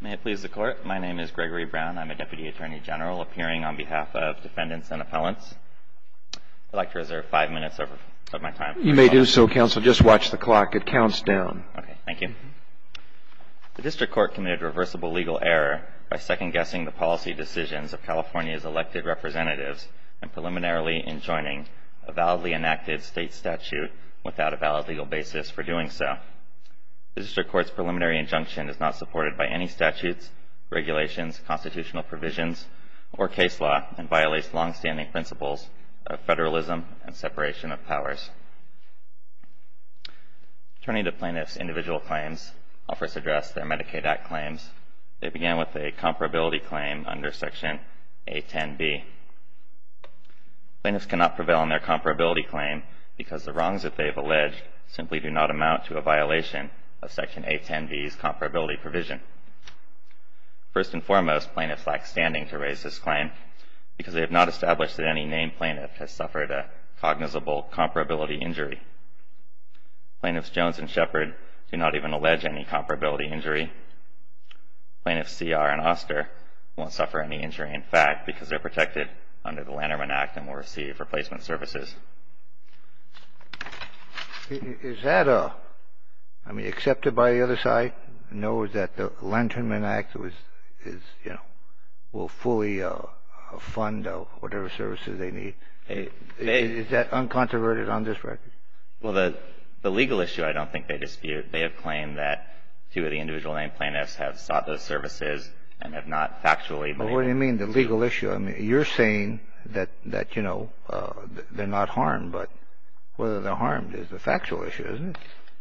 May it please the Court. My name is Gregory Brown. I'm a Deputy Attorney General appearing on behalf of defendants and appellants. I'd like to reserve five minutes of my time. You may do so, Counsel. Just watch the clock. It counts down. Okay. Thank you. The District Court committed reversible legal error by second-guessing the policy decisions of California's elected representatives and preliminarily enjoining a validly enacted state statute without a valid legal basis for doing so. The District Court's preliminary injunction is not supported by any statutes, regulations, constitutional provisions, or case law and violates long-standing principles of federalism and separation of powers. Attorney-to-plaintiffs' individual claims offer to address their Medicaid Act claims. They begin with a comparability claim under Section A10b. Plaintiffs cannot prevail on their comparability claim because the wrongs that they have alleged simply do not amount to a violation of Section A10b's comparability provision. First and foremost, plaintiffs lack standing to raise this claim because they have not established that any named plaintiff has suffered a cognizable comparability injury. Plaintiffs Jones and Shepard do not even allege any comparability injury. Plaintiffs C.R. and Oster won't suffer any injury, in fact, because they're protected under the Lanternman Act and will receive replacement services. Is that, I mean, accepted by the other side? No, is that the Lanternman Act is, you know, will fully fund whatever services they need? Is that uncontroverted on this record? Well, the legal issue I don't think they dispute. They have claimed that two of the individual named plaintiffs have sought those services and have not factually been able to do so. Well, what do you mean the legal issue? I mean, you're saying that, you know, they're not harmed, but whether they're harmed is a factual issue, isn't it?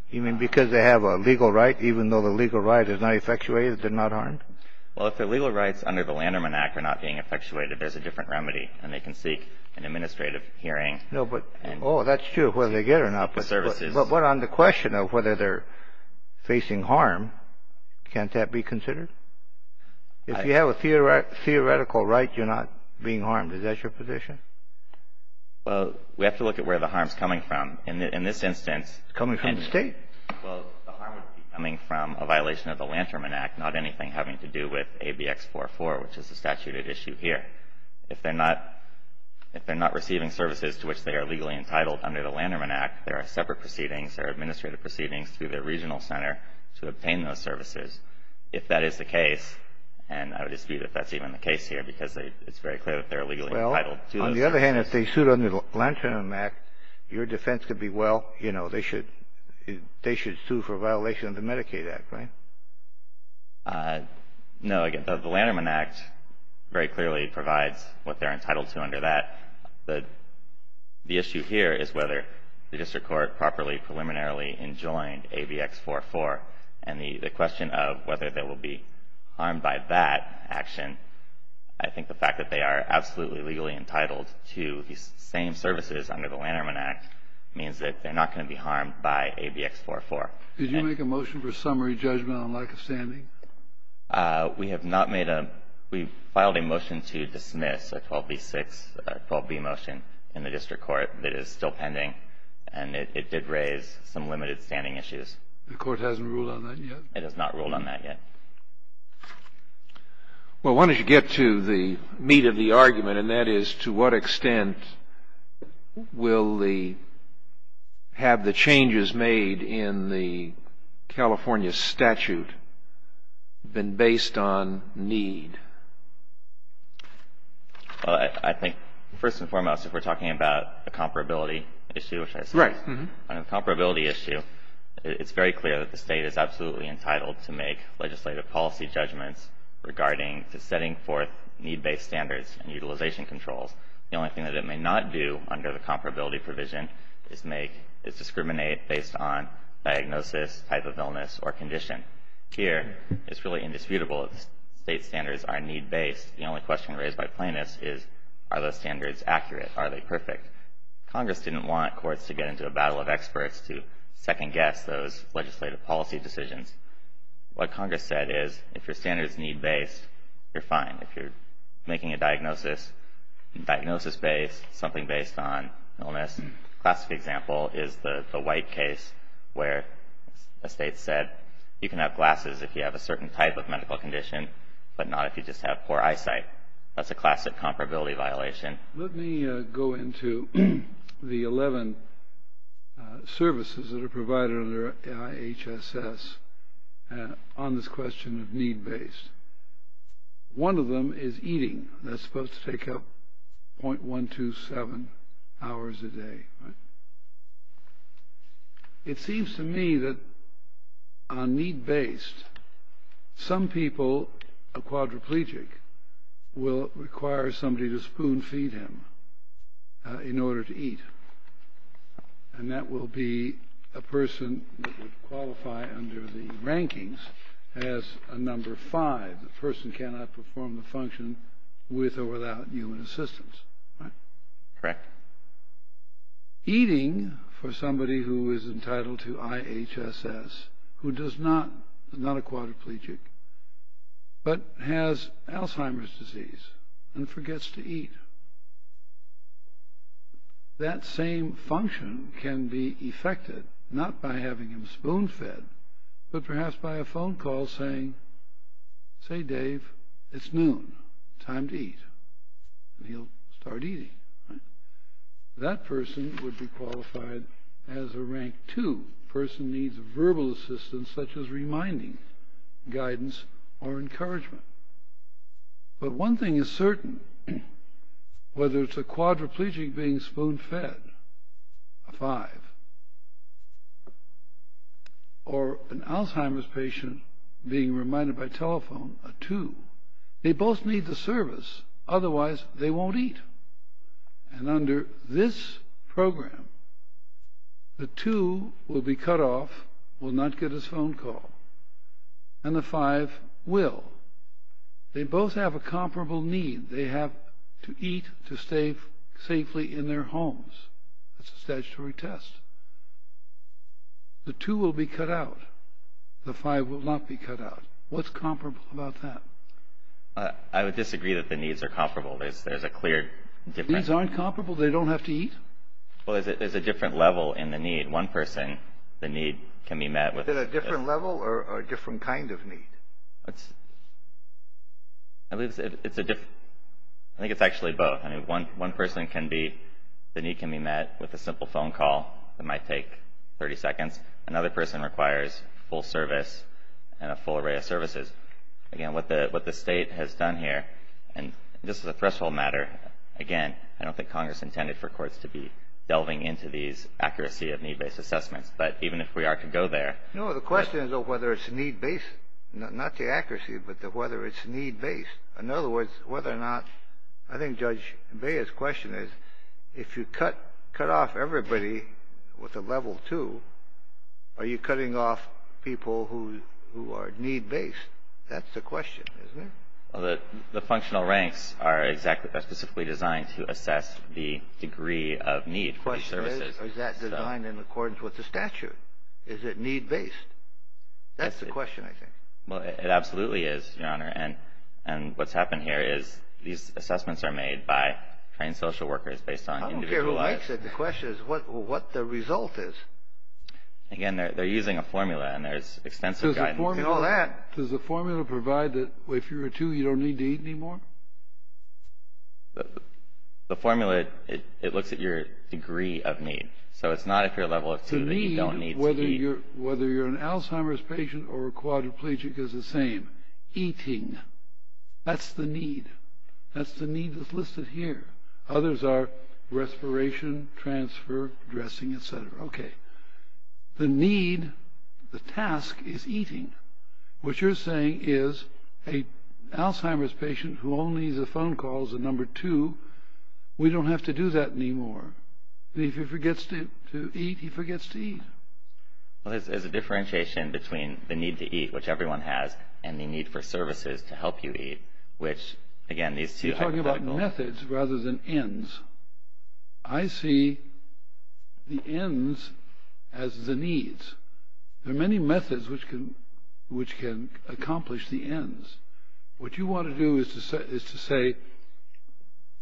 You mean because they have a legal right, even though the legal right is not effectuated, they're not harmed? Well, if their legal rights under the Lanternman Act are not being effectuated, there's a different remedy, and they can seek an administrative hearing. No, but, oh, that's true, whether they get it or not. But what on the question of whether they're facing harm, can't that be considered? If you have a theoretical right, you're not being harmed. Is that your position? Well, we have to look at where the harm is coming from. In this instance. It's coming from the State. Well, the harm would be coming from a violation of the Lanternman Act, not anything having to do with ABX44, which is the statute at issue here. If they're not receiving services to which they are legally entitled under the Lanternman Act, there are separate proceedings, there are administrative proceedings, through their regional center to obtain those services. If that is the case, and I would dispute if that's even the case here, because it's very clear that they're legally entitled to those services. Well, on the other hand, if they sued under the Lanternman Act, your defense could be, well, you know, they should sue for a violation of the Medicaid Act, right? No, the Lanternman Act very clearly provides what they're entitled to under that. The issue here is whether the district court properly, preliminarily enjoined ABX44, and the question of whether they will be harmed by that action, I think the fact that they are absolutely legally entitled to these same services under the Lanternman Act means that they're not going to be harmed by ABX44. Did you make a motion for summary judgment on lack of standing? We have not made a ‑‑ we filed a motion to dismiss a 12B6, a 12B motion in the district court that is still pending, and it did raise some limited standing issues. The court hasn't ruled on that yet? It has not ruled on that yet. Well, why don't you get to the meat of the argument, and that is to what extent will the ‑‑ have the changes made in the California statute been based on need? Well, I think first and foremost, if we're talking about a comparability issue, which I suppose is a comparability issue, it's very clear that the state is absolutely entitled to make legislative policy judgments regarding setting forth need-based standards and utilization controls. The only thing that it may not do under the comparability provision is discriminate based on diagnosis, type of illness, or condition. Here, it's really indisputable that the state's standards are need-based. The only question raised by plaintiffs is, are those standards accurate? Are they perfect? Congress didn't want courts to get into a battle of experts to second guess those legislative policy decisions. What Congress said is, if your standards need-based, you're fine. If you're making a diagnosis, diagnosis-based, something based on illness, a classic example is the White case where a state said, you can have glasses if you have a certain type of medical condition, but not if you just have poor eyesight. That's a classic comparability violation. Let me go into the 11 services that are provided under IHSS on this question of need-based. One of them is eating. That's supposed to take up .127 hours a day. It seems to me that on need-based, some people, a quadriplegic, will require somebody to spoon-feed him in order to eat. And that will be a person that would qualify under the rankings as a number five, the person cannot perform the function with or without human assistance. Right? Correct. Eating, for somebody who is entitled to IHSS, who does not, is not a quadriplegic, but has Alzheimer's disease and forgets to eat. That same function can be effected not by having him spoon-fed, but perhaps by a phone call saying, say, Dave, it's noon. Time to eat. And he'll start eating. That person would be qualified as a rank two. A person needs verbal assistance such as reminding, guidance, or encouragement. But one thing is certain. Whether it's a quadriplegic being spoon-fed, a five, or an Alzheimer's patient being reminded by telephone, a two, they both need the service, otherwise they won't eat. And under this program, the two will be cut off, will not get his phone call, and the five will. They both have a comparable need. They have to eat to stay safely in their homes. It's a statutory test. The two will be cut out. The five will not be cut out. What's comparable about that? I would disagree that the needs are comparable. There's a clear difference. Needs aren't comparable? They don't have to eat? Well, there's a different level in the need. One person, the need can be met. Is it a different level or a different kind of need? I think it's actually both. I mean, one person can be, the need can be met with a simple phone call. Another person requires full service and a full array of services. Again, what the State has done here, and this is a threshold matter, again, I don't think Congress intended for courts to be delving into these accuracy of need-based assessments. But even if we are to go there. No, the question is whether it's need-based, not the accuracy, but whether it's need-based. In other words, whether or not, I think Judge Bea's question is, if you cut off everybody with a level two, are you cutting off people who are need-based? That's the question, isn't it? The functional ranks are specifically designed to assess the degree of need for services. Is that designed in accordance with the statute? Is it need-based? That's the question, I think. Well, it absolutely is, Your Honor. And what's happened here is these assessments are made by trained social workers based on individual lives. I said the question is what the result is. Again, they're using a formula, and there's extensive guidance in all that. Does the formula provide that if you're a two, you don't need to eat anymore? The formula, it looks at your degree of need. So it's not if you're a level of two that you don't need to eat. Whether you're an Alzheimer's patient or a quadriplegic is the same. Eating, that's the need. That's the need that's listed here. Others are respiration, transfer, dressing, et cetera. Okay. The need, the task, is eating. What you're saying is a Alzheimer's patient who only needs a phone call is a number two. We don't have to do that anymore. If he forgets to eat, he forgets to eat. Well, there's a differentiation between the need to eat, which everyone has, and the need for services to help you eat, which, again, these two hypotheticals. Needs rather than ends. I see the ends as the needs. There are many methods which can accomplish the ends. What you want to do is to say,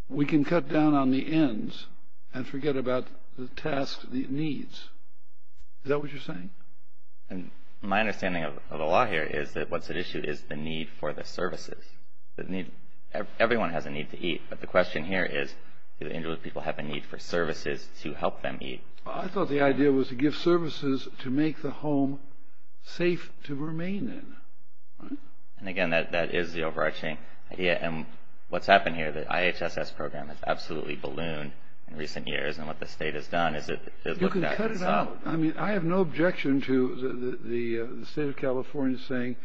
we can cut down on the ends and forget about the tasks, the needs. Is that what you're saying? My understanding of the law here is that what's at issue is the need for the services. Everyone has a need to eat, but the question here is, do the injured people have a need for services to help them eat? I thought the idea was to give services to make the home safe to remain in. Again, that is the overarching idea. What's happened here, the IHSS program has absolutely ballooned in recent years, and what the state has done is to look back and solve. You can cut it out. I have no objection to the state of California saying,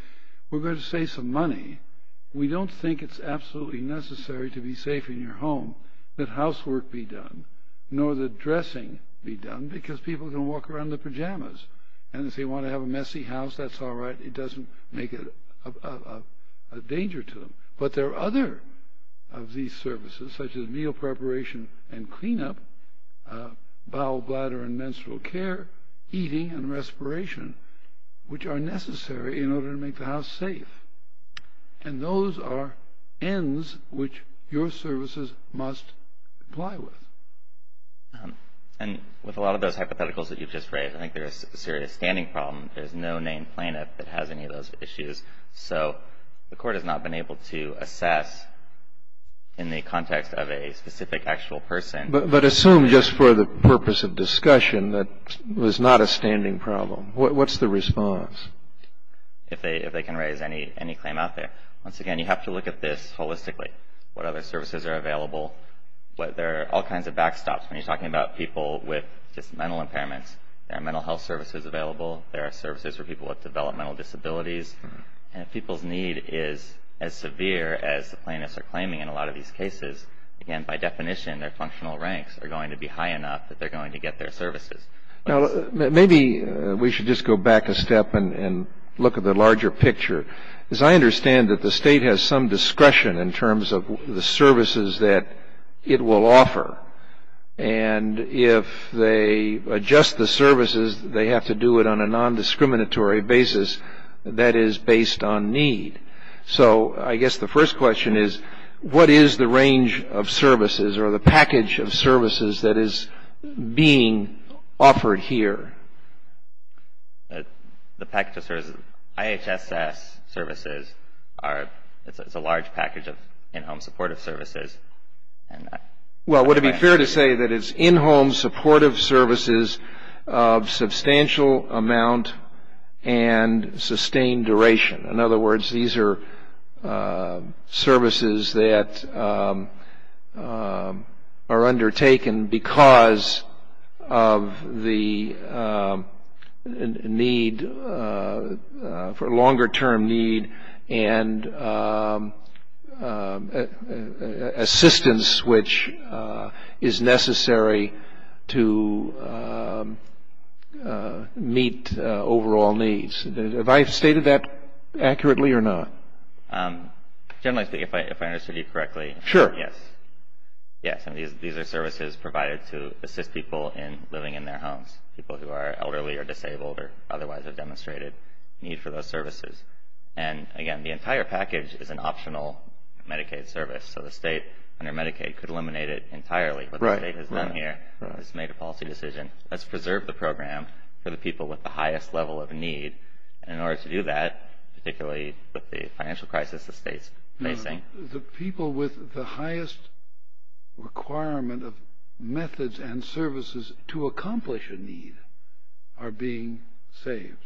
we're going to save some money. We don't think it's absolutely necessary to be safe in your home that housework be done, nor that dressing be done, because people can walk around in their pajamas, and if they want to have a messy house, that's all right. It doesn't make it a danger to them. But there are other of these services, such as meal preparation and cleanup, bowel, bladder, and menstrual care, eating and respiration, which are necessary in order to make the house safe. And those are ends which your services must comply with. And with a lot of those hypotheticals that you've just raised, I think there is a serious standing problem. There's no named plaintiff that has any of those issues. So the court has not been able to assess in the context of a specific actual person. But assume, just for the purpose of discussion, that was not a standing problem. What's the response? If they can raise any claim out there. Once again, you have to look at this holistically. What other services are available? There are all kinds of backstops when you're talking about people with just mental impairments. There are mental health services available. There are services for people with developmental disabilities. And if people's need is as severe as the plaintiffs are claiming in a lot of these cases, again, by definition, their functional ranks are going to be high enough that they're going to get their services. Now, maybe we should just go back a step and look at the larger picture. Because I understand that the state has some discretion in terms of the services that it will offer. And if they adjust the services, they have to do it on a nondiscriminatory basis that is based on need. So I guess the first question is, what is the range of services or the package of services that is being offered here? The package of services, IHSS services, it's a large package of in-home supportive services. Well, would it be fair to say that it's in-home supportive services of substantial amount and sustained duration? In other words, these are services that are undertaken because of the need for longer-term need and assistance which is necessary to meet overall needs. Have I stated that accurately or not? Generally speaking, if I understood you correctly. Sure. Yes. Yes, and these are services provided to assist people in living in their homes, people who are elderly or disabled or otherwise have demonstrated need for those services. And again, the entire package is an optional Medicaid service. So the state under Medicaid could eliminate it entirely. Right. What the state has done here is make a policy decision. Let's preserve the program for the people with the highest level of need. And in order to do that, particularly with the financial crisis the state is facing. The people with the highest requirement of methods and services to accomplish a need are being saved.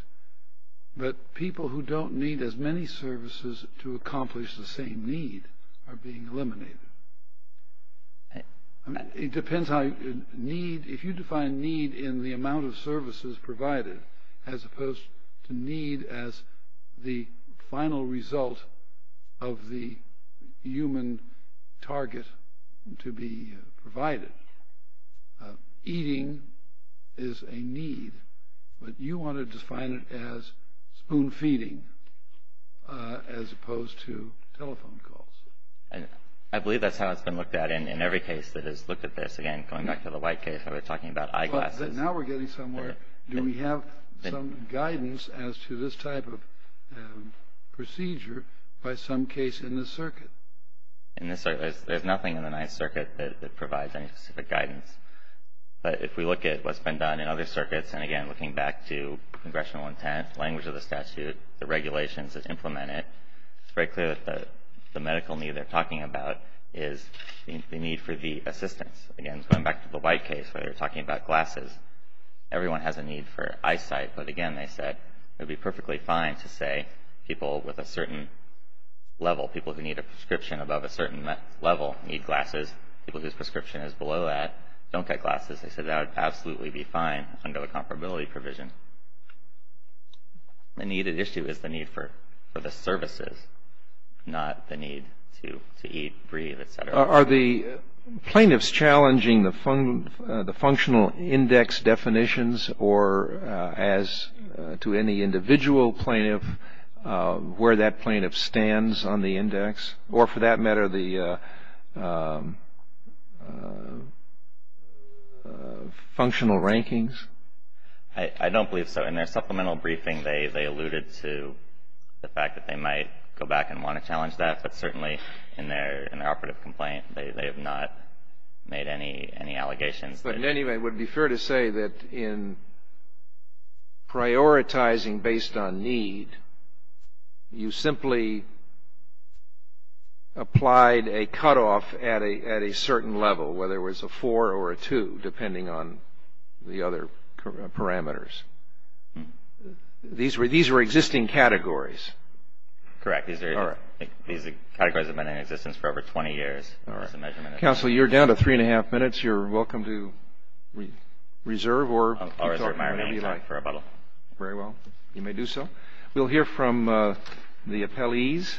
But people who don't need as many services to accomplish the same need are being eliminated. It depends how you need. If you define need in the amount of services provided as opposed to need as the final result of the human target to be provided. Eating is a need, but you want to define it as spoon feeding as opposed to telephone calls. I believe that's how it's been looked at in every case that has looked at this. Again, going back to the White case where we're talking about eyeglasses. Now we're getting somewhere. Do we have some guidance as to this type of procedure by some case in this circuit? There's nothing in the Ninth Circuit that provides any specific guidance. But if we look at what's been done in other circuits, and again, looking back to congressional intent, language of the statute, the regulations that implement it, it's very clear that the medical need they're talking about is the need for the assistance. Again, going back to the White case where they're talking about glasses, everyone has a need for eyesight. But again, they said it would be perfectly fine to say people with a certain level, people who need a prescription above a certain level need glasses, people whose prescription is below that don't get glasses. They said that would absolutely be fine under the comparability provision. The needed issue is the need for the services, not the need to eat, breathe, et cetera. Are the plaintiffs challenging the functional index definitions or, as to any individual plaintiff, where that plaintiff stands on the index or, for that matter, the functional rankings? I don't believe so. In their supplemental briefing, they alluded to the fact that they might go back and want to challenge that. But certainly, in their operative complaint, they have not made any allegations. But anyway, it would be fair to say that in prioritizing based on need, you simply applied a cutoff at a certain level, whether it was a four or a two, depending on the other parameters. These were existing categories. Correct. These categories have been in existence for over 20 years as a measurement. Counsel, you're down to three and a half minutes. You're welcome to reserve or keep talking. I'll reserve my remaining time for rebuttal. Very well. You may do so. We'll hear from the appellees.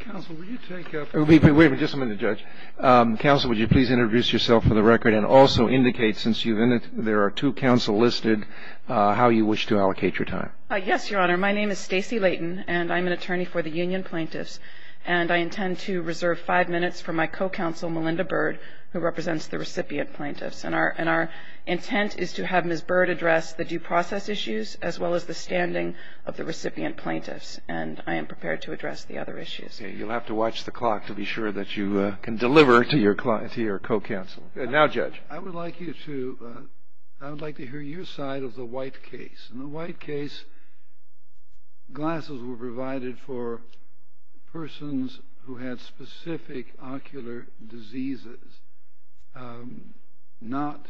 Counsel, will you take up? Wait a minute. Just a minute, Judge. Counsel, would you please introduce yourself for the record and also indicate, since there are two counsel listed, how you wish to allocate your time? Yes, Your Honor. My name is Stacey Layton, and I'm an attorney for the union plaintiffs. And I intend to reserve five minutes for my co-counsel, Melinda Bird, who represents the recipient plaintiffs. And our intent is to have Ms. Bird address the due process issues as well as the standing of the recipient plaintiffs. And I am prepared to address the other issues. Okay. You'll have to watch the clock to be sure that you can deliver to your co-counsel. Now, Judge. I would like to hear your side of the white case. In the white case, glasses were provided for persons who had specific ocular diseases, not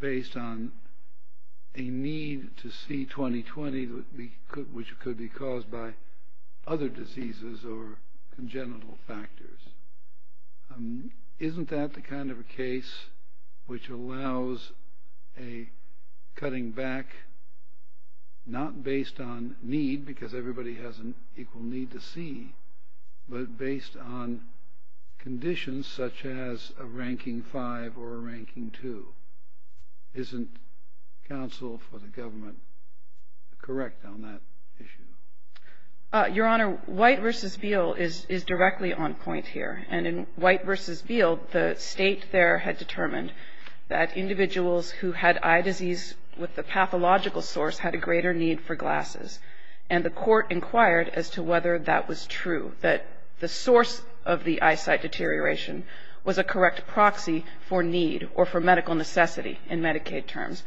based on a need to see 20-20, which could be caused by other diseases or congenital factors. Isn't that the kind of a case which allows a cutting back not based on need, because everybody has an equal need to see, but based on conditions such as a ranking five or a ranking two? Isn't counsel for the government correct on that issue? Your Honor, White v. Beale is directly on point here. And in White v. Beale, the State there had determined that individuals who had eye disease with the pathological source had a greater need for glasses. And the Court inquired as to whether that was true, that the source of the eyesight deterioration was a correct proxy for need or for medical necessity in Medicaid terms.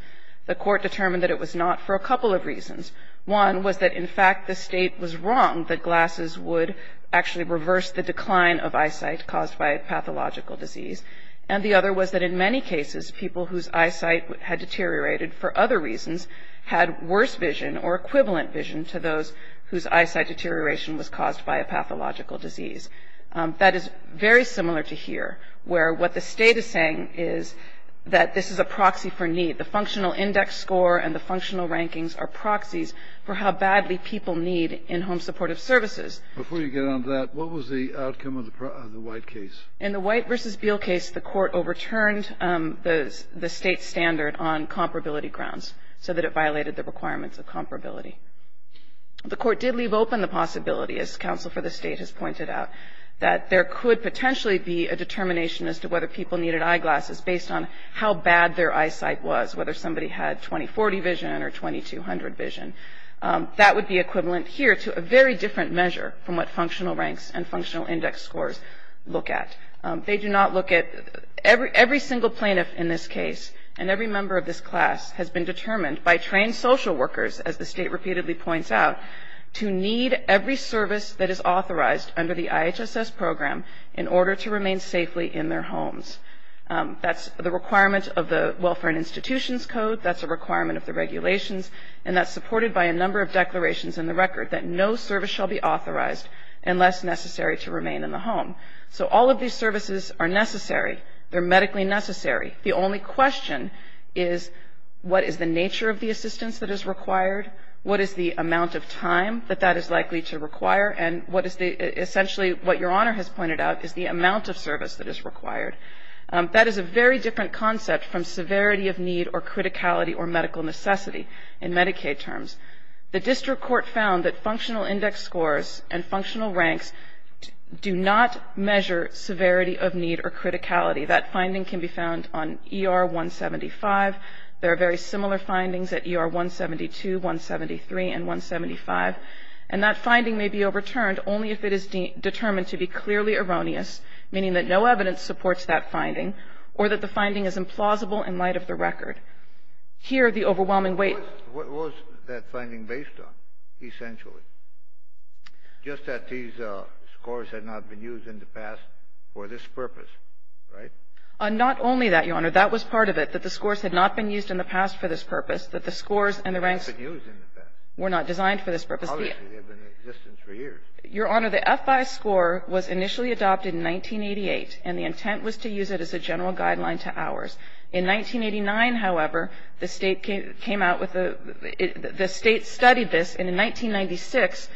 The Court determined that it was not for a couple of reasons. One was that, in fact, the State was wrong that glasses would actually reverse the decline of eyesight caused by a pathological disease. And the other was that in many cases, people whose eyesight had deteriorated for other reasons had worse vision or equivalent vision to those whose eyesight deterioration was caused by a pathological disease. That is very similar to here, where what the State is saying is that this is a proxy for need. The functional index score and the functional rankings are proxies for how badly people need in-home supportive services. Before you get on to that, what was the outcome of the White case? In the White v. Beale case, the Court overturned the State's standard on comparability grounds so that it violated the requirements of comparability. The Court did leave open the possibility, as counsel for the State has pointed out, that there could potentially be a determination as to whether people needed eyeglasses based on how bad their eyesight was, whether somebody had 20-40 vision or 20-200 vision. That would be equivalent here to a very different measure from what functional ranks and functional index scores look at. They do not look at – every single plaintiff in this case and every member of this class has been determined by trained social workers, as the State repeatedly points out, to need every service that is authorized under the IHSS program in order to remain safely in their homes. That's the requirement of the Welfare and Institutions Code. That's a requirement of the regulations. And that's supported by a number of declarations in the record that no service shall be authorized unless necessary to remain in the home. So all of these services are necessary. They're medically necessary. The only question is what is the nature of the assistance that is required, what is the amount of time that that is likely to require, and essentially what Your Honor has pointed out is the amount of service that is required. That is a very different concept from severity of need or criticality or medical necessity in Medicaid terms. The district court found that functional index scores and functional ranks do not measure severity of need or criticality. That finding can be found on ER 175. There are very similar findings at ER 172, 173, and 175. And that finding may be overturned only if it is determined to be clearly erroneous, meaning that no evidence supports that finding, or that the finding is implausible in light of the record. Here, the overwhelming weight of the finding is based on. What was that finding based on, essentially? Just that these scores had not been used in the past for this purpose, right? Not only that, Your Honor. That was part of it, that the scores had not been used in the past for this purpose, that the scores and the ranks were not designed for this purpose. Obviously, they have been in existence for years. Your Honor, the FI score was initially adopted in 1988, and the intent was to use it as a general guideline to ours. In 1989, however, the State came out with a the State studied this, and in 1996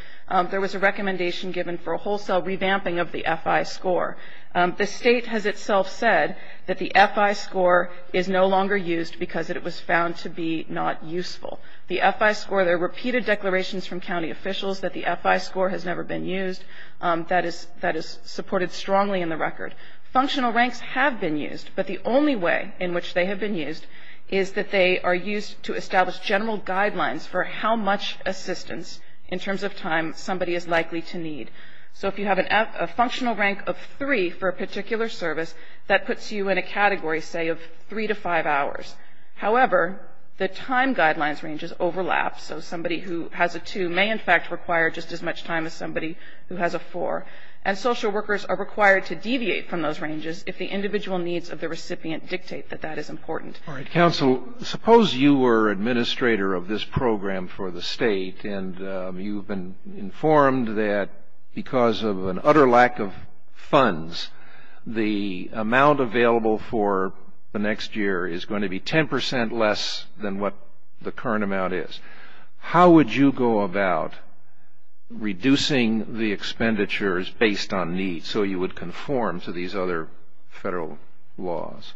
there was a recommendation given for a wholesale revamping of the FI score. The State has itself said that the FI score is no longer used because it was found to be not useful. The FI score, there are repeated declarations from county officials that the FI score has never been used. That is supported strongly in the record. Functional ranks have been used, but the only way in which they have been used is that they are used to establish general guidelines for how much assistance, in terms of time, somebody is likely to need. So if you have a functional rank of three for a particular service, that puts you in a category, say, of three to five hours. However, the time guidelines ranges overlap, so somebody who has a two may in fact require just as much time as somebody who has a four. And social workers are required to deviate from those ranges if the individual needs of the recipient dictate that that is important. All right. Counsel, suppose you were administrator of this program for the State, the amount available for the next year is going to be 10% less than what the current amount is. How would you go about reducing the expenditures based on need so you would conform to these other Federal laws?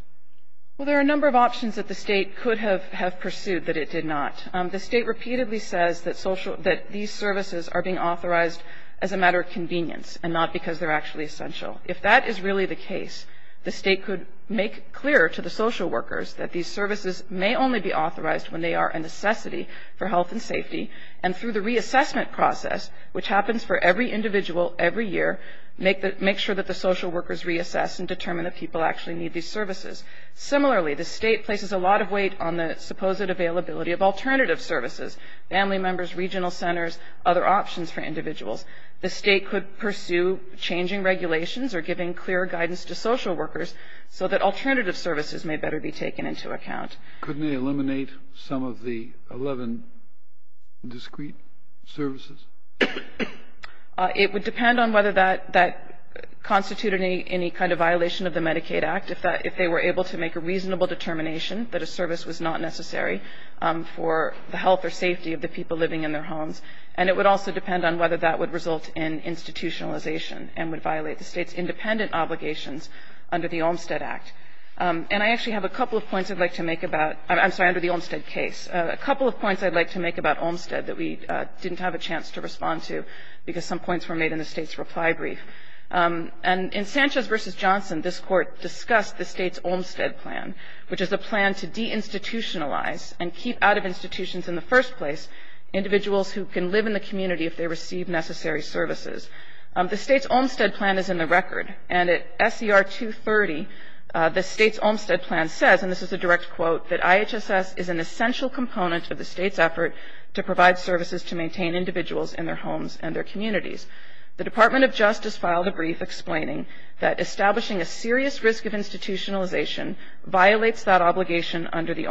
Well, there are a number of options that the State could have pursued that it did not. The State repeatedly says that these services are being authorized as a matter of convenience and not because they're actually essential. If that is really the case, the State could make clear to the social workers that these services may only be authorized when they are a necessity for health and safety, and through the reassessment process, which happens for every individual every year, make sure that the social workers reassess and determine if people actually need these services. Similarly, the State places a lot of weight on the supposed availability of alternative services, family members, regional centers, other options for individuals. The State could pursue changing regulations or giving clear guidance to social workers so that alternative services may better be taken into account. Couldn't they eliminate some of the 11 discrete services? It would depend on whether that constituted any kind of violation of the Medicaid Act, if they were able to make a reasonable determination that a service was not necessary for the health or safety of the people living in their homes. And it would also depend on whether that would result in institutionalization and would violate the State's independent obligations under the Olmstead Act. And I actually have a couple of points I'd like to make about – I'm sorry, under the Olmstead case. A couple of points I'd like to make about Olmstead that we didn't have a chance to respond to because some points were made in the State's reply brief. And in Sanchez v. Johnson, this Court discussed the State's Olmstead plan, which is a plan to deinstitutionalize and keep out of institutions in the first place individuals who can live in the community if they receive necessary services. The State's Olmstead plan is in the record. And at SCR 230, the State's Olmstead plan says, and this is a direct quote, that IHSS is an essential component of the State's effort to provide services to maintain individuals in their homes and their communities. The Department of Justice filed a brief explaining that establishing a serious risk of institutionalization violates that obligation under the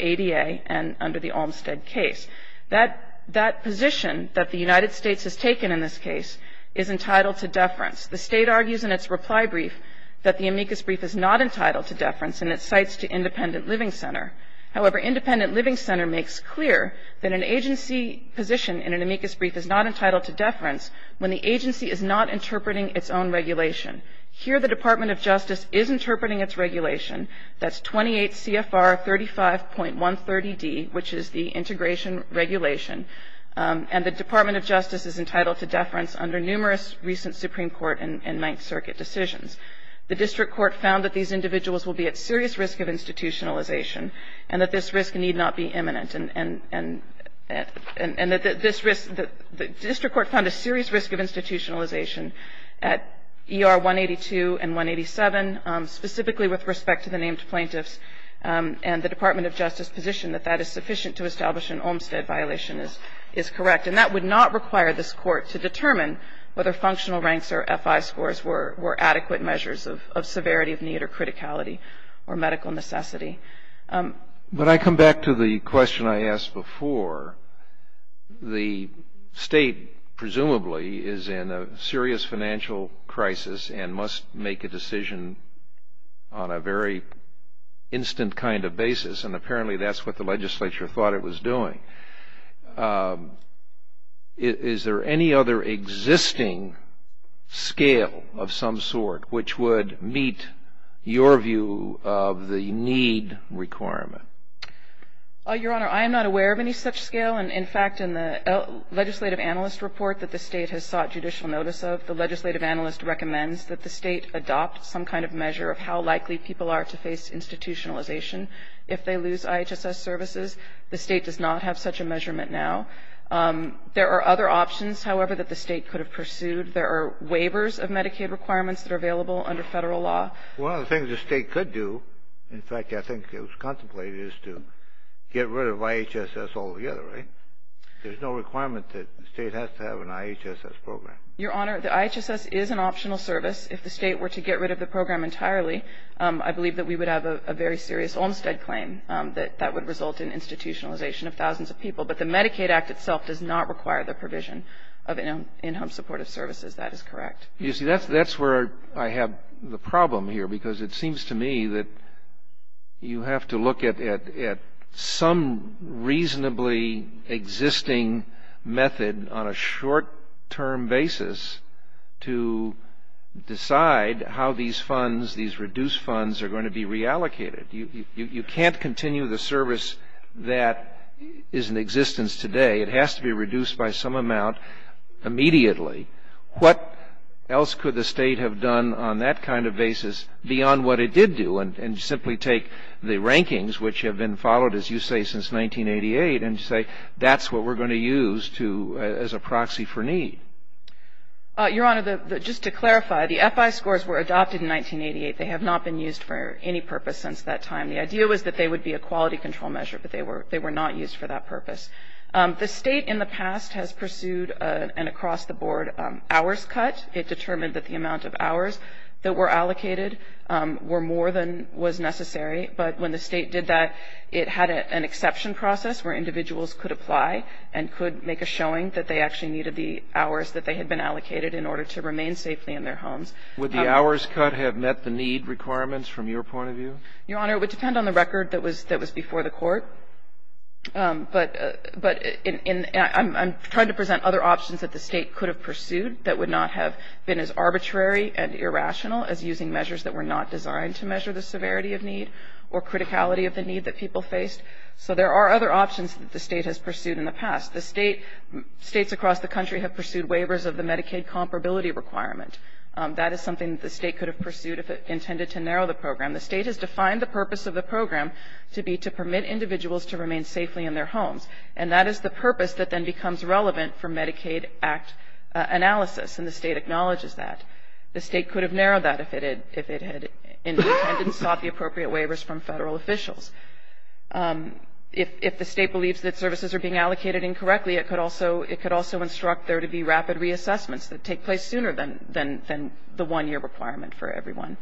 ADA and under the Olmstead case. That position that the United States has taken in this case is entitled to deference. The State argues in its reply brief that the amicus brief is not entitled to deference and it cites to independent living center. However, independent living center makes clear that an agency position in an amicus brief is not entitled to deference when the agency is not interpreting its own regulation. Here the Department of Justice is interpreting its regulation. That's 28 CFR 35.130D, which is the integration regulation. And the Department of Justice is entitled to deference under numerous recent Supreme Court and Ninth Circuit decisions. The District Court found that these individuals will be at serious risk of institutionalization and that this risk need not be imminent. And that this risk, the District Court found a serious risk of institutionalization at ER 182 and 187, specifically with respect to the named plaintiffs and the Department of Justice position that that is sufficient to establish an Olmstead violation is correct. And that would not require this Court to determine whether functional ranks or FI scores were adequate measures of severity of need or criticality or medical necessity. When I come back to the question I asked before, the state presumably is in a serious financial crisis and must make a decision on a very instant kind of basis. And apparently that's what the legislature thought it was doing. Is there any other existing scale of some sort which would meet your view of the need requirement? Your Honor, I am not aware of any such scale. And, in fact, in the legislative analyst report that the state has sought judicial notice of, the legislative analyst recommends that the state adopt some kind of measure of how likely people are to face institutionalization if they lose IHSS services. The state does not have such a measurement now. There are other options, however, that the state could have pursued. There are waivers of Medicaid requirements that are available under Federal law. One of the things the state could do, in fact, I think it was contemplated, is to get rid of IHSS altogether, right? There's no requirement that the state has to have an IHSS program. Your Honor, the IHSS is an optional service. If the state were to get rid of the program entirely, I believe that we would have a very serious Olmstead claim that that would result in institutionalization of thousands of people. But the Medicaid Act itself does not require the provision of in-home supportive services. That is correct. You see, that's where I have the problem here. Because it seems to me that you have to look at some reasonably existing method on a short-term basis to decide how these funds, these reduced funds, are going to be reallocated. You can't continue the service that is in existence today. It has to be reduced by some amount immediately. What else could the state have done on that kind of basis beyond what it did do, and simply take the rankings, which have been followed, as you say, since 1988, and say that's what we're going to use to as a proxy for need? Your Honor, just to clarify, the FI scores were adopted in 1988. They have not been used for any purpose since that time. The idea was that they would be a quality control measure, but they were not used for that purpose. The State in the past has pursued an across-the-board hours cut. It determined that the amount of hours that were allocated were more than was necessary. But when the State did that, it had an exception process where individuals could apply and could make a showing that they actually needed the hours that they had been allocated in order to remain safely in their homes. Would the hours cut have met the need requirements from your point of view? Your Honor, it would depend on the record that was before the Court. But I'm trying to present other options that the State could have pursued that would not have been as arbitrary and irrational as using measures that were not designed to measure the severity of need or criticality of the need that people faced. So there are other options that the State has pursued in the past. The State, States across the country have pursued waivers of the Medicaid comparability requirement. That is something that the State could have pursued if it intended to narrow the program. The State has defined the purpose of the program to be to permit individuals to remain safely in their homes. And that is the purpose that then becomes relevant for Medicaid Act analysis, and the State acknowledges that. The State could have narrowed that if it had intended and sought the appropriate waivers from federal officials. If the State believes that services are being allocated incorrectly, it could also instruct there to be rapid reassessments that take place sooner than the one-year requirement for everyone.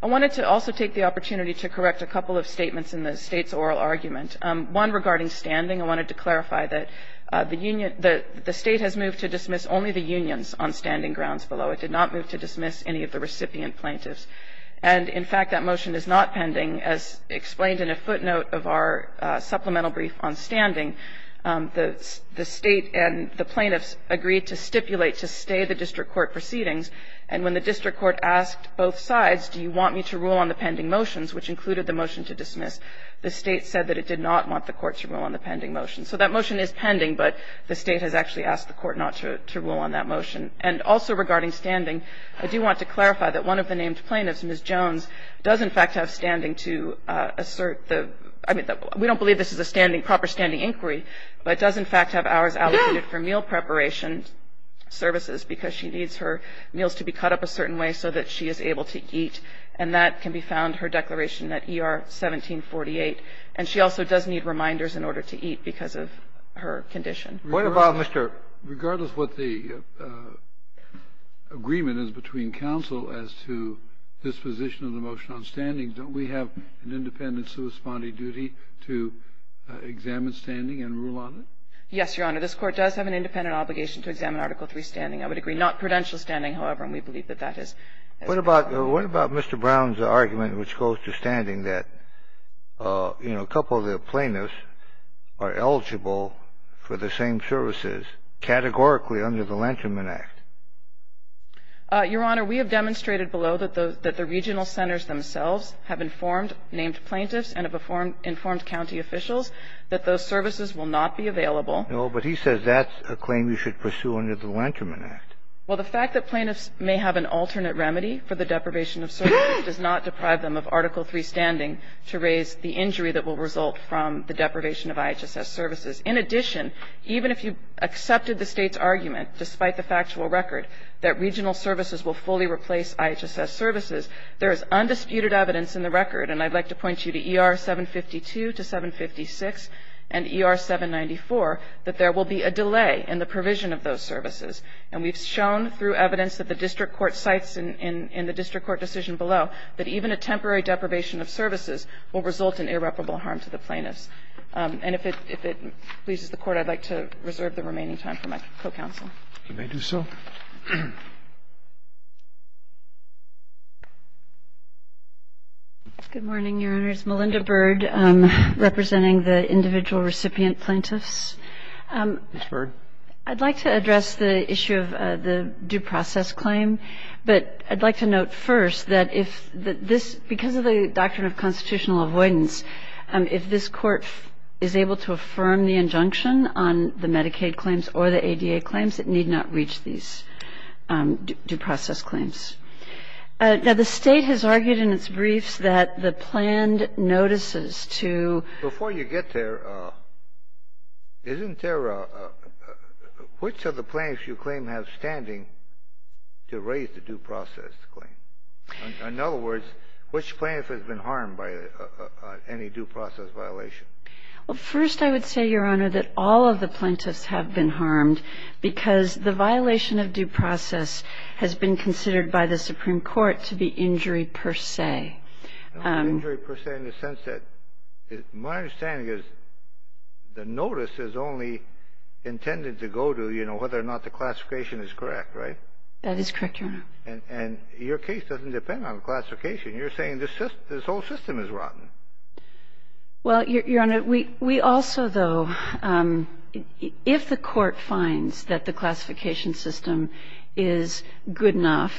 I wanted to also take the opportunity to correct a couple of statements in the State's oral argument, one regarding standing. I wanted to clarify that the State has moved to dismiss only the unions on standing grounds below. It did not move to dismiss any of the recipient plaintiffs. And, in fact, that motion is not pending. As explained in a footnote of our supplemental brief on standing, the State and the plaintiffs agreed to stipulate to stay the district court proceedings, and when the district court asked both sides, do you want me to rule on the pending motions, which included the motion to dismiss, the State said that it did not want the court to rule on the pending motions. So that motion is pending, but the State has actually asked the court not to rule on that motion. And also regarding standing, I do want to clarify that one of the named plaintiffs, Ms. Jones, does, in fact, have standing to assert the ‑‑ I mean, we don't believe this is a standing ‑‑ proper standing inquiry, but does, in fact, have hours allocated for meal preparation services because she needs her meals to be cut up a certain way so that she is able to eat. And that can be found, her declaration at ER 1748. And she also does need reminders in order to eat because of her condition. What about, Mr. ‑‑ Regardless what the agreement is between counsel as to disposition of the motion on standing, don't we have an independent suspended duty to examine standing and rule on it? Yes, Your Honor. This Court does have an independent obligation to examine Article III standing. I would agree. Not prudential standing, however, and we believe that that is. What about Mr. Brown's argument which goes to standing that, you know, a couple of the plaintiffs are eligible for the same services categorically under the Lanterman Act? Your Honor, we have demonstrated below that the regional centers themselves have informed named plaintiffs and have informed county officials that those services will not be available. No, but he says that's a claim you should pursue under the Lanterman Act. Well, the fact that plaintiffs may have an alternate remedy for the deprivation of services does not deprive them of Article III standing to raise the injury that will result from the deprivation of IHSS services. In addition, even if you accepted the State's argument, despite the factual record, that regional services will fully replace IHSS services, there is undisputed evidence in the record, and I'd like to point you to ER 752 to 756 and ER 794, that there will be a delay in the provision of those services. And we've shown through evidence that the district court cites in the district court decision below that even a temporary deprivation of services will result in irreparable harm to the plaintiffs. And if it pleases the Court, I'd like to reserve the remaining time for my co-counsel. You may do so. Ms. Bird. I'd like to address the issue of the due process claim. But I'd like to note first that if this, because of the doctrine of constitutional avoidance, if this Court is able to affirm the injunction on the Medicaid claims or the ADA claims, it need not reach these. due process claims. Now, the State has argued in its briefs that the planned notices to Before you get there, isn't there, which of the plaintiffs you claim have standing to raise the due process claim? In other words, which plaintiff has been harmed by any due process violation? Well, first I would say, Your Honor, that all of the plaintiffs have been harmed because the violation of due process has been considered by the Supreme Court to be injury per se. Injury per se in the sense that my understanding is the notice is only intended to go to, you know, whether or not the classification is correct, right? That is correct, Your Honor. And your case doesn't depend on classification. You're saying this whole system is rotten. Well, Your Honor, we also, though, if the Court finds that the classification system is good enough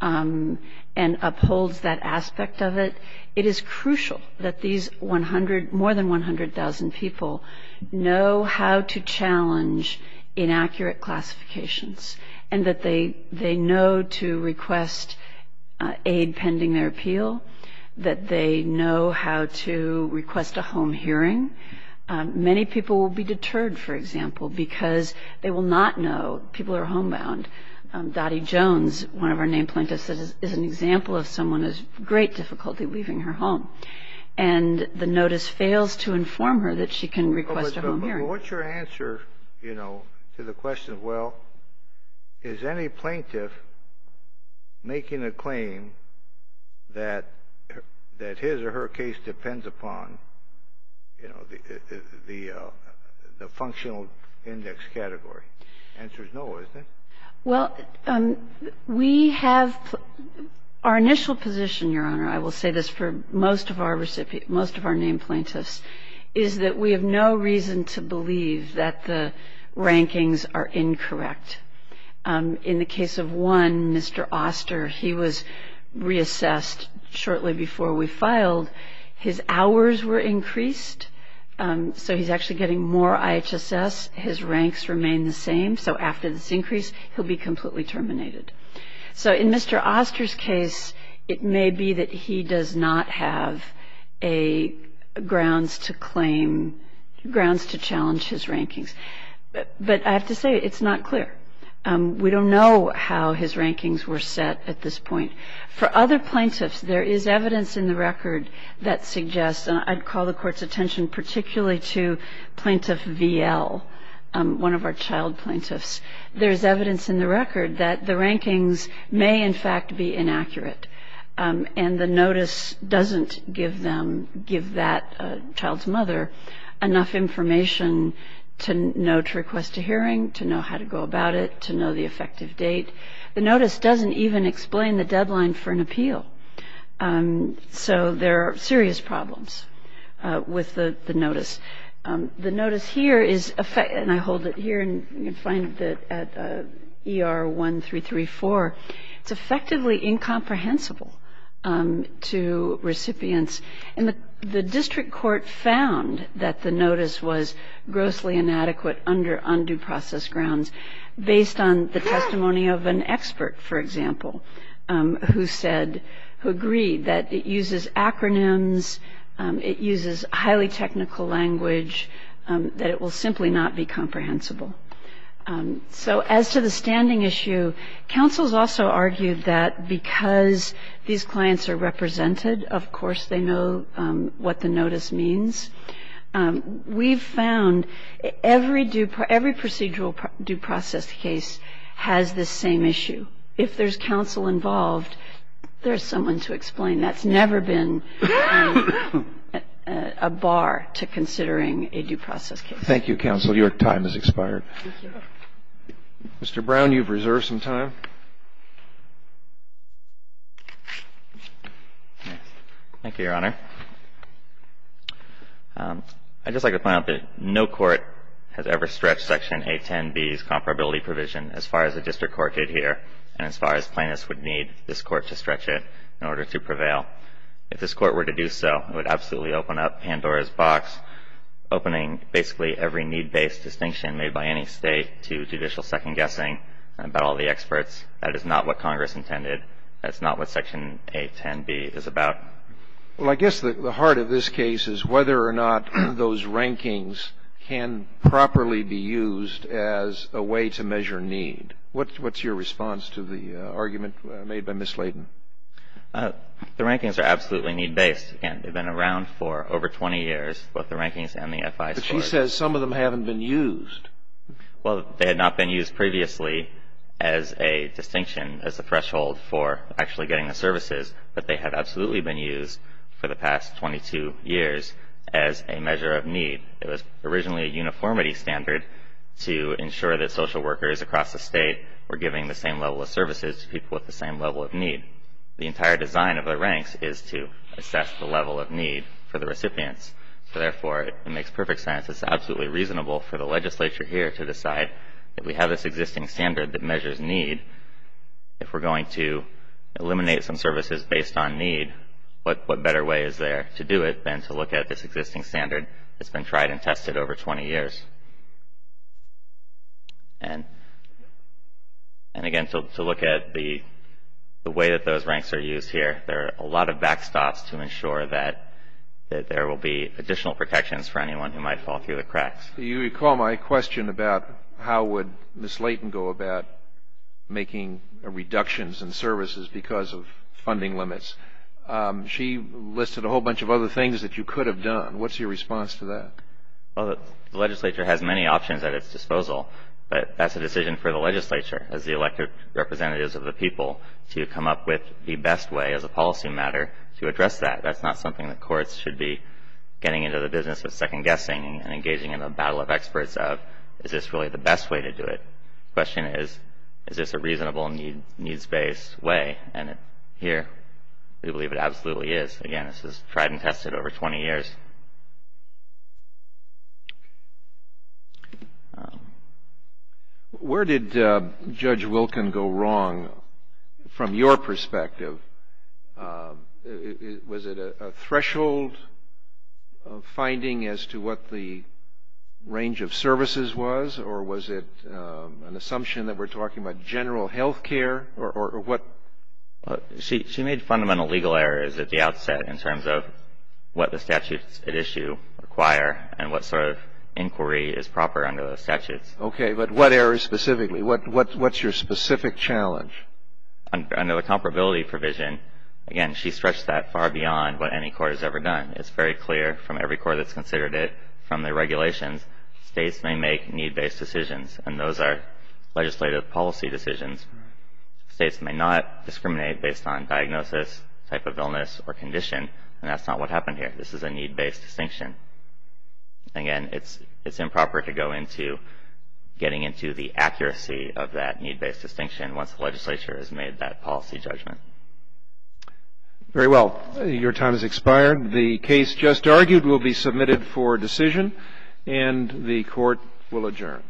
and upholds that aspect of it, it is crucial that these 100 more than 100,000 people know how to challenge inaccurate classifications and that they know to request aid pending their appeal, that they know how to request a home hearing. Many people will be deterred, for example, because they will not know. People are homebound. Dottie Jones, one of our named plaintiffs, is an example of someone who has great difficulty leaving her home. And the notice fails to inform her that she can request a home hearing. Well, what's your answer, you know, to the question of, well, is any plaintiff making a claim that his or her case depends upon, you know, the functional index category? The answer is no, isn't it? Well, we have our initial position, Your Honor, I will say this for most of our named plaintiffs, is that we have no reason to believe that the rankings are incorrect. In the case of one, Mr. Oster, he was reassessed shortly before we filed. His hours were increased, so he's actually getting more IHSS. His ranks remain the same, so after this increase, he'll be completely terminated. So in Mr. Oster's case, it may be that he does not have grounds to claim, grounds to challenge his rankings. But I have to say, it's not clear. We don't know how his rankings were set at this point. For other plaintiffs, there is evidence in the record that suggests, and I'd call the Court's attention particularly to Plaintiff V.L., one of our child plaintiffs. There is evidence in the record that the rankings may, in fact, be inaccurate, and the notice doesn't give that child's mother enough information to know to request a hearing, to know how to go about it, to know the effective date. The notice doesn't even explain the deadline for an appeal. So there are serious problems with the notice. The notice here is, and I hold it here and you can find it at ER 1334, it's effectively incomprehensible to recipients. And the district court found that the notice was grossly inadequate under undue process grounds based on the testimony of an expert, for example, who agreed that it uses acronyms, it uses highly technical language, that it will simply not be comprehensible. So as to the standing issue, counsels also argued that because these clients are represented, of course they know what the notice means. We've found every procedural due process case has this same issue. If there's counsel involved, there's someone to explain. That's never been a bar to considering a due process case. Thank you, counsel. Your time has expired. Thank you. Mr. Brown, you've reserved some time. Thank you, Your Honor. I'd just like to point out that no court has ever stretched Section 810B's comparability provision as far as the district court did here, and as far as plaintiffs would need this court to stretch it in order to prevail. If this court were to do so, it would absolutely open up Pandora's box, opening basically every need-based distinction made by any state to judicial second-guessing about all the experts. That is not what Congress intended. That's not what Section 810B is about. Well, I guess the heart of this case is whether or not those rankings can properly be used as a way to measure need. What's your response to the argument made by Ms. Layden? The rankings are absolutely need-based. They've been around for over 20 years, both the rankings and the FI score. But she says some of them haven't been used. Well, they had not been used previously as a distinction, as a threshold for actually getting the services, but they had absolutely been used for the past 22 years as a measure of need. It was originally a uniformity standard to ensure that social workers across the state were giving the same level of services to people with the same level of need. The entire design of the ranks is to assess the level of need for the recipients. So, therefore, it makes perfect sense. It's absolutely reasonable for the legislature here to decide if we have this existing standard that measures need, if we're going to eliminate some services based on need, what better way is there to do it than to look at this existing standard that's been tried and tested over 20 years? And, again, to look at the way that those ranks are used here, there are a lot of backstops to ensure that there will be additional protections for anyone who might fall through the cracks. You recall my question about how would Ms. Layden go about making reductions in services because of funding limits. She listed a whole bunch of other things that you could have done. What's your response to that? Well, the legislature has many options at its disposal, but that's a decision for the legislature as the elected representatives of the people to come up with the best way as a policy matter to address that. That's not something that courts should be getting into the business of second-guessing and engaging in a battle of experts of, is this really the best way to do it? The question is, is this a reasonable needs-based way? And here we believe it absolutely is. Again, this is tried and tested over 20 years. Where did Judge Wilkin go wrong from your perspective? Was it a threshold finding as to what the range of services was or was it an assumption that we're talking about general health care or what? She made fundamental legal errors at the outset in terms of what the statutes at issue require and what sort of inquiry is proper under the statutes. Okay, but what areas specifically? What's your specific challenge? Under the comparability provision, again, she stretched that far beyond what any court has ever done. It's very clear from every court that's considered it, from the regulations, states may make need-based decisions, and those are legislative policy decisions. States may not discriminate based on diagnosis, type of illness, or condition, and that's not what happened here. This is a need-based distinction. Again, it's improper to go into getting into the accuracy of that need-based distinction once the legislature has made that policy judgment. Very well. Your time has expired. The case just argued will be submitted for decision, and the court will adjourn.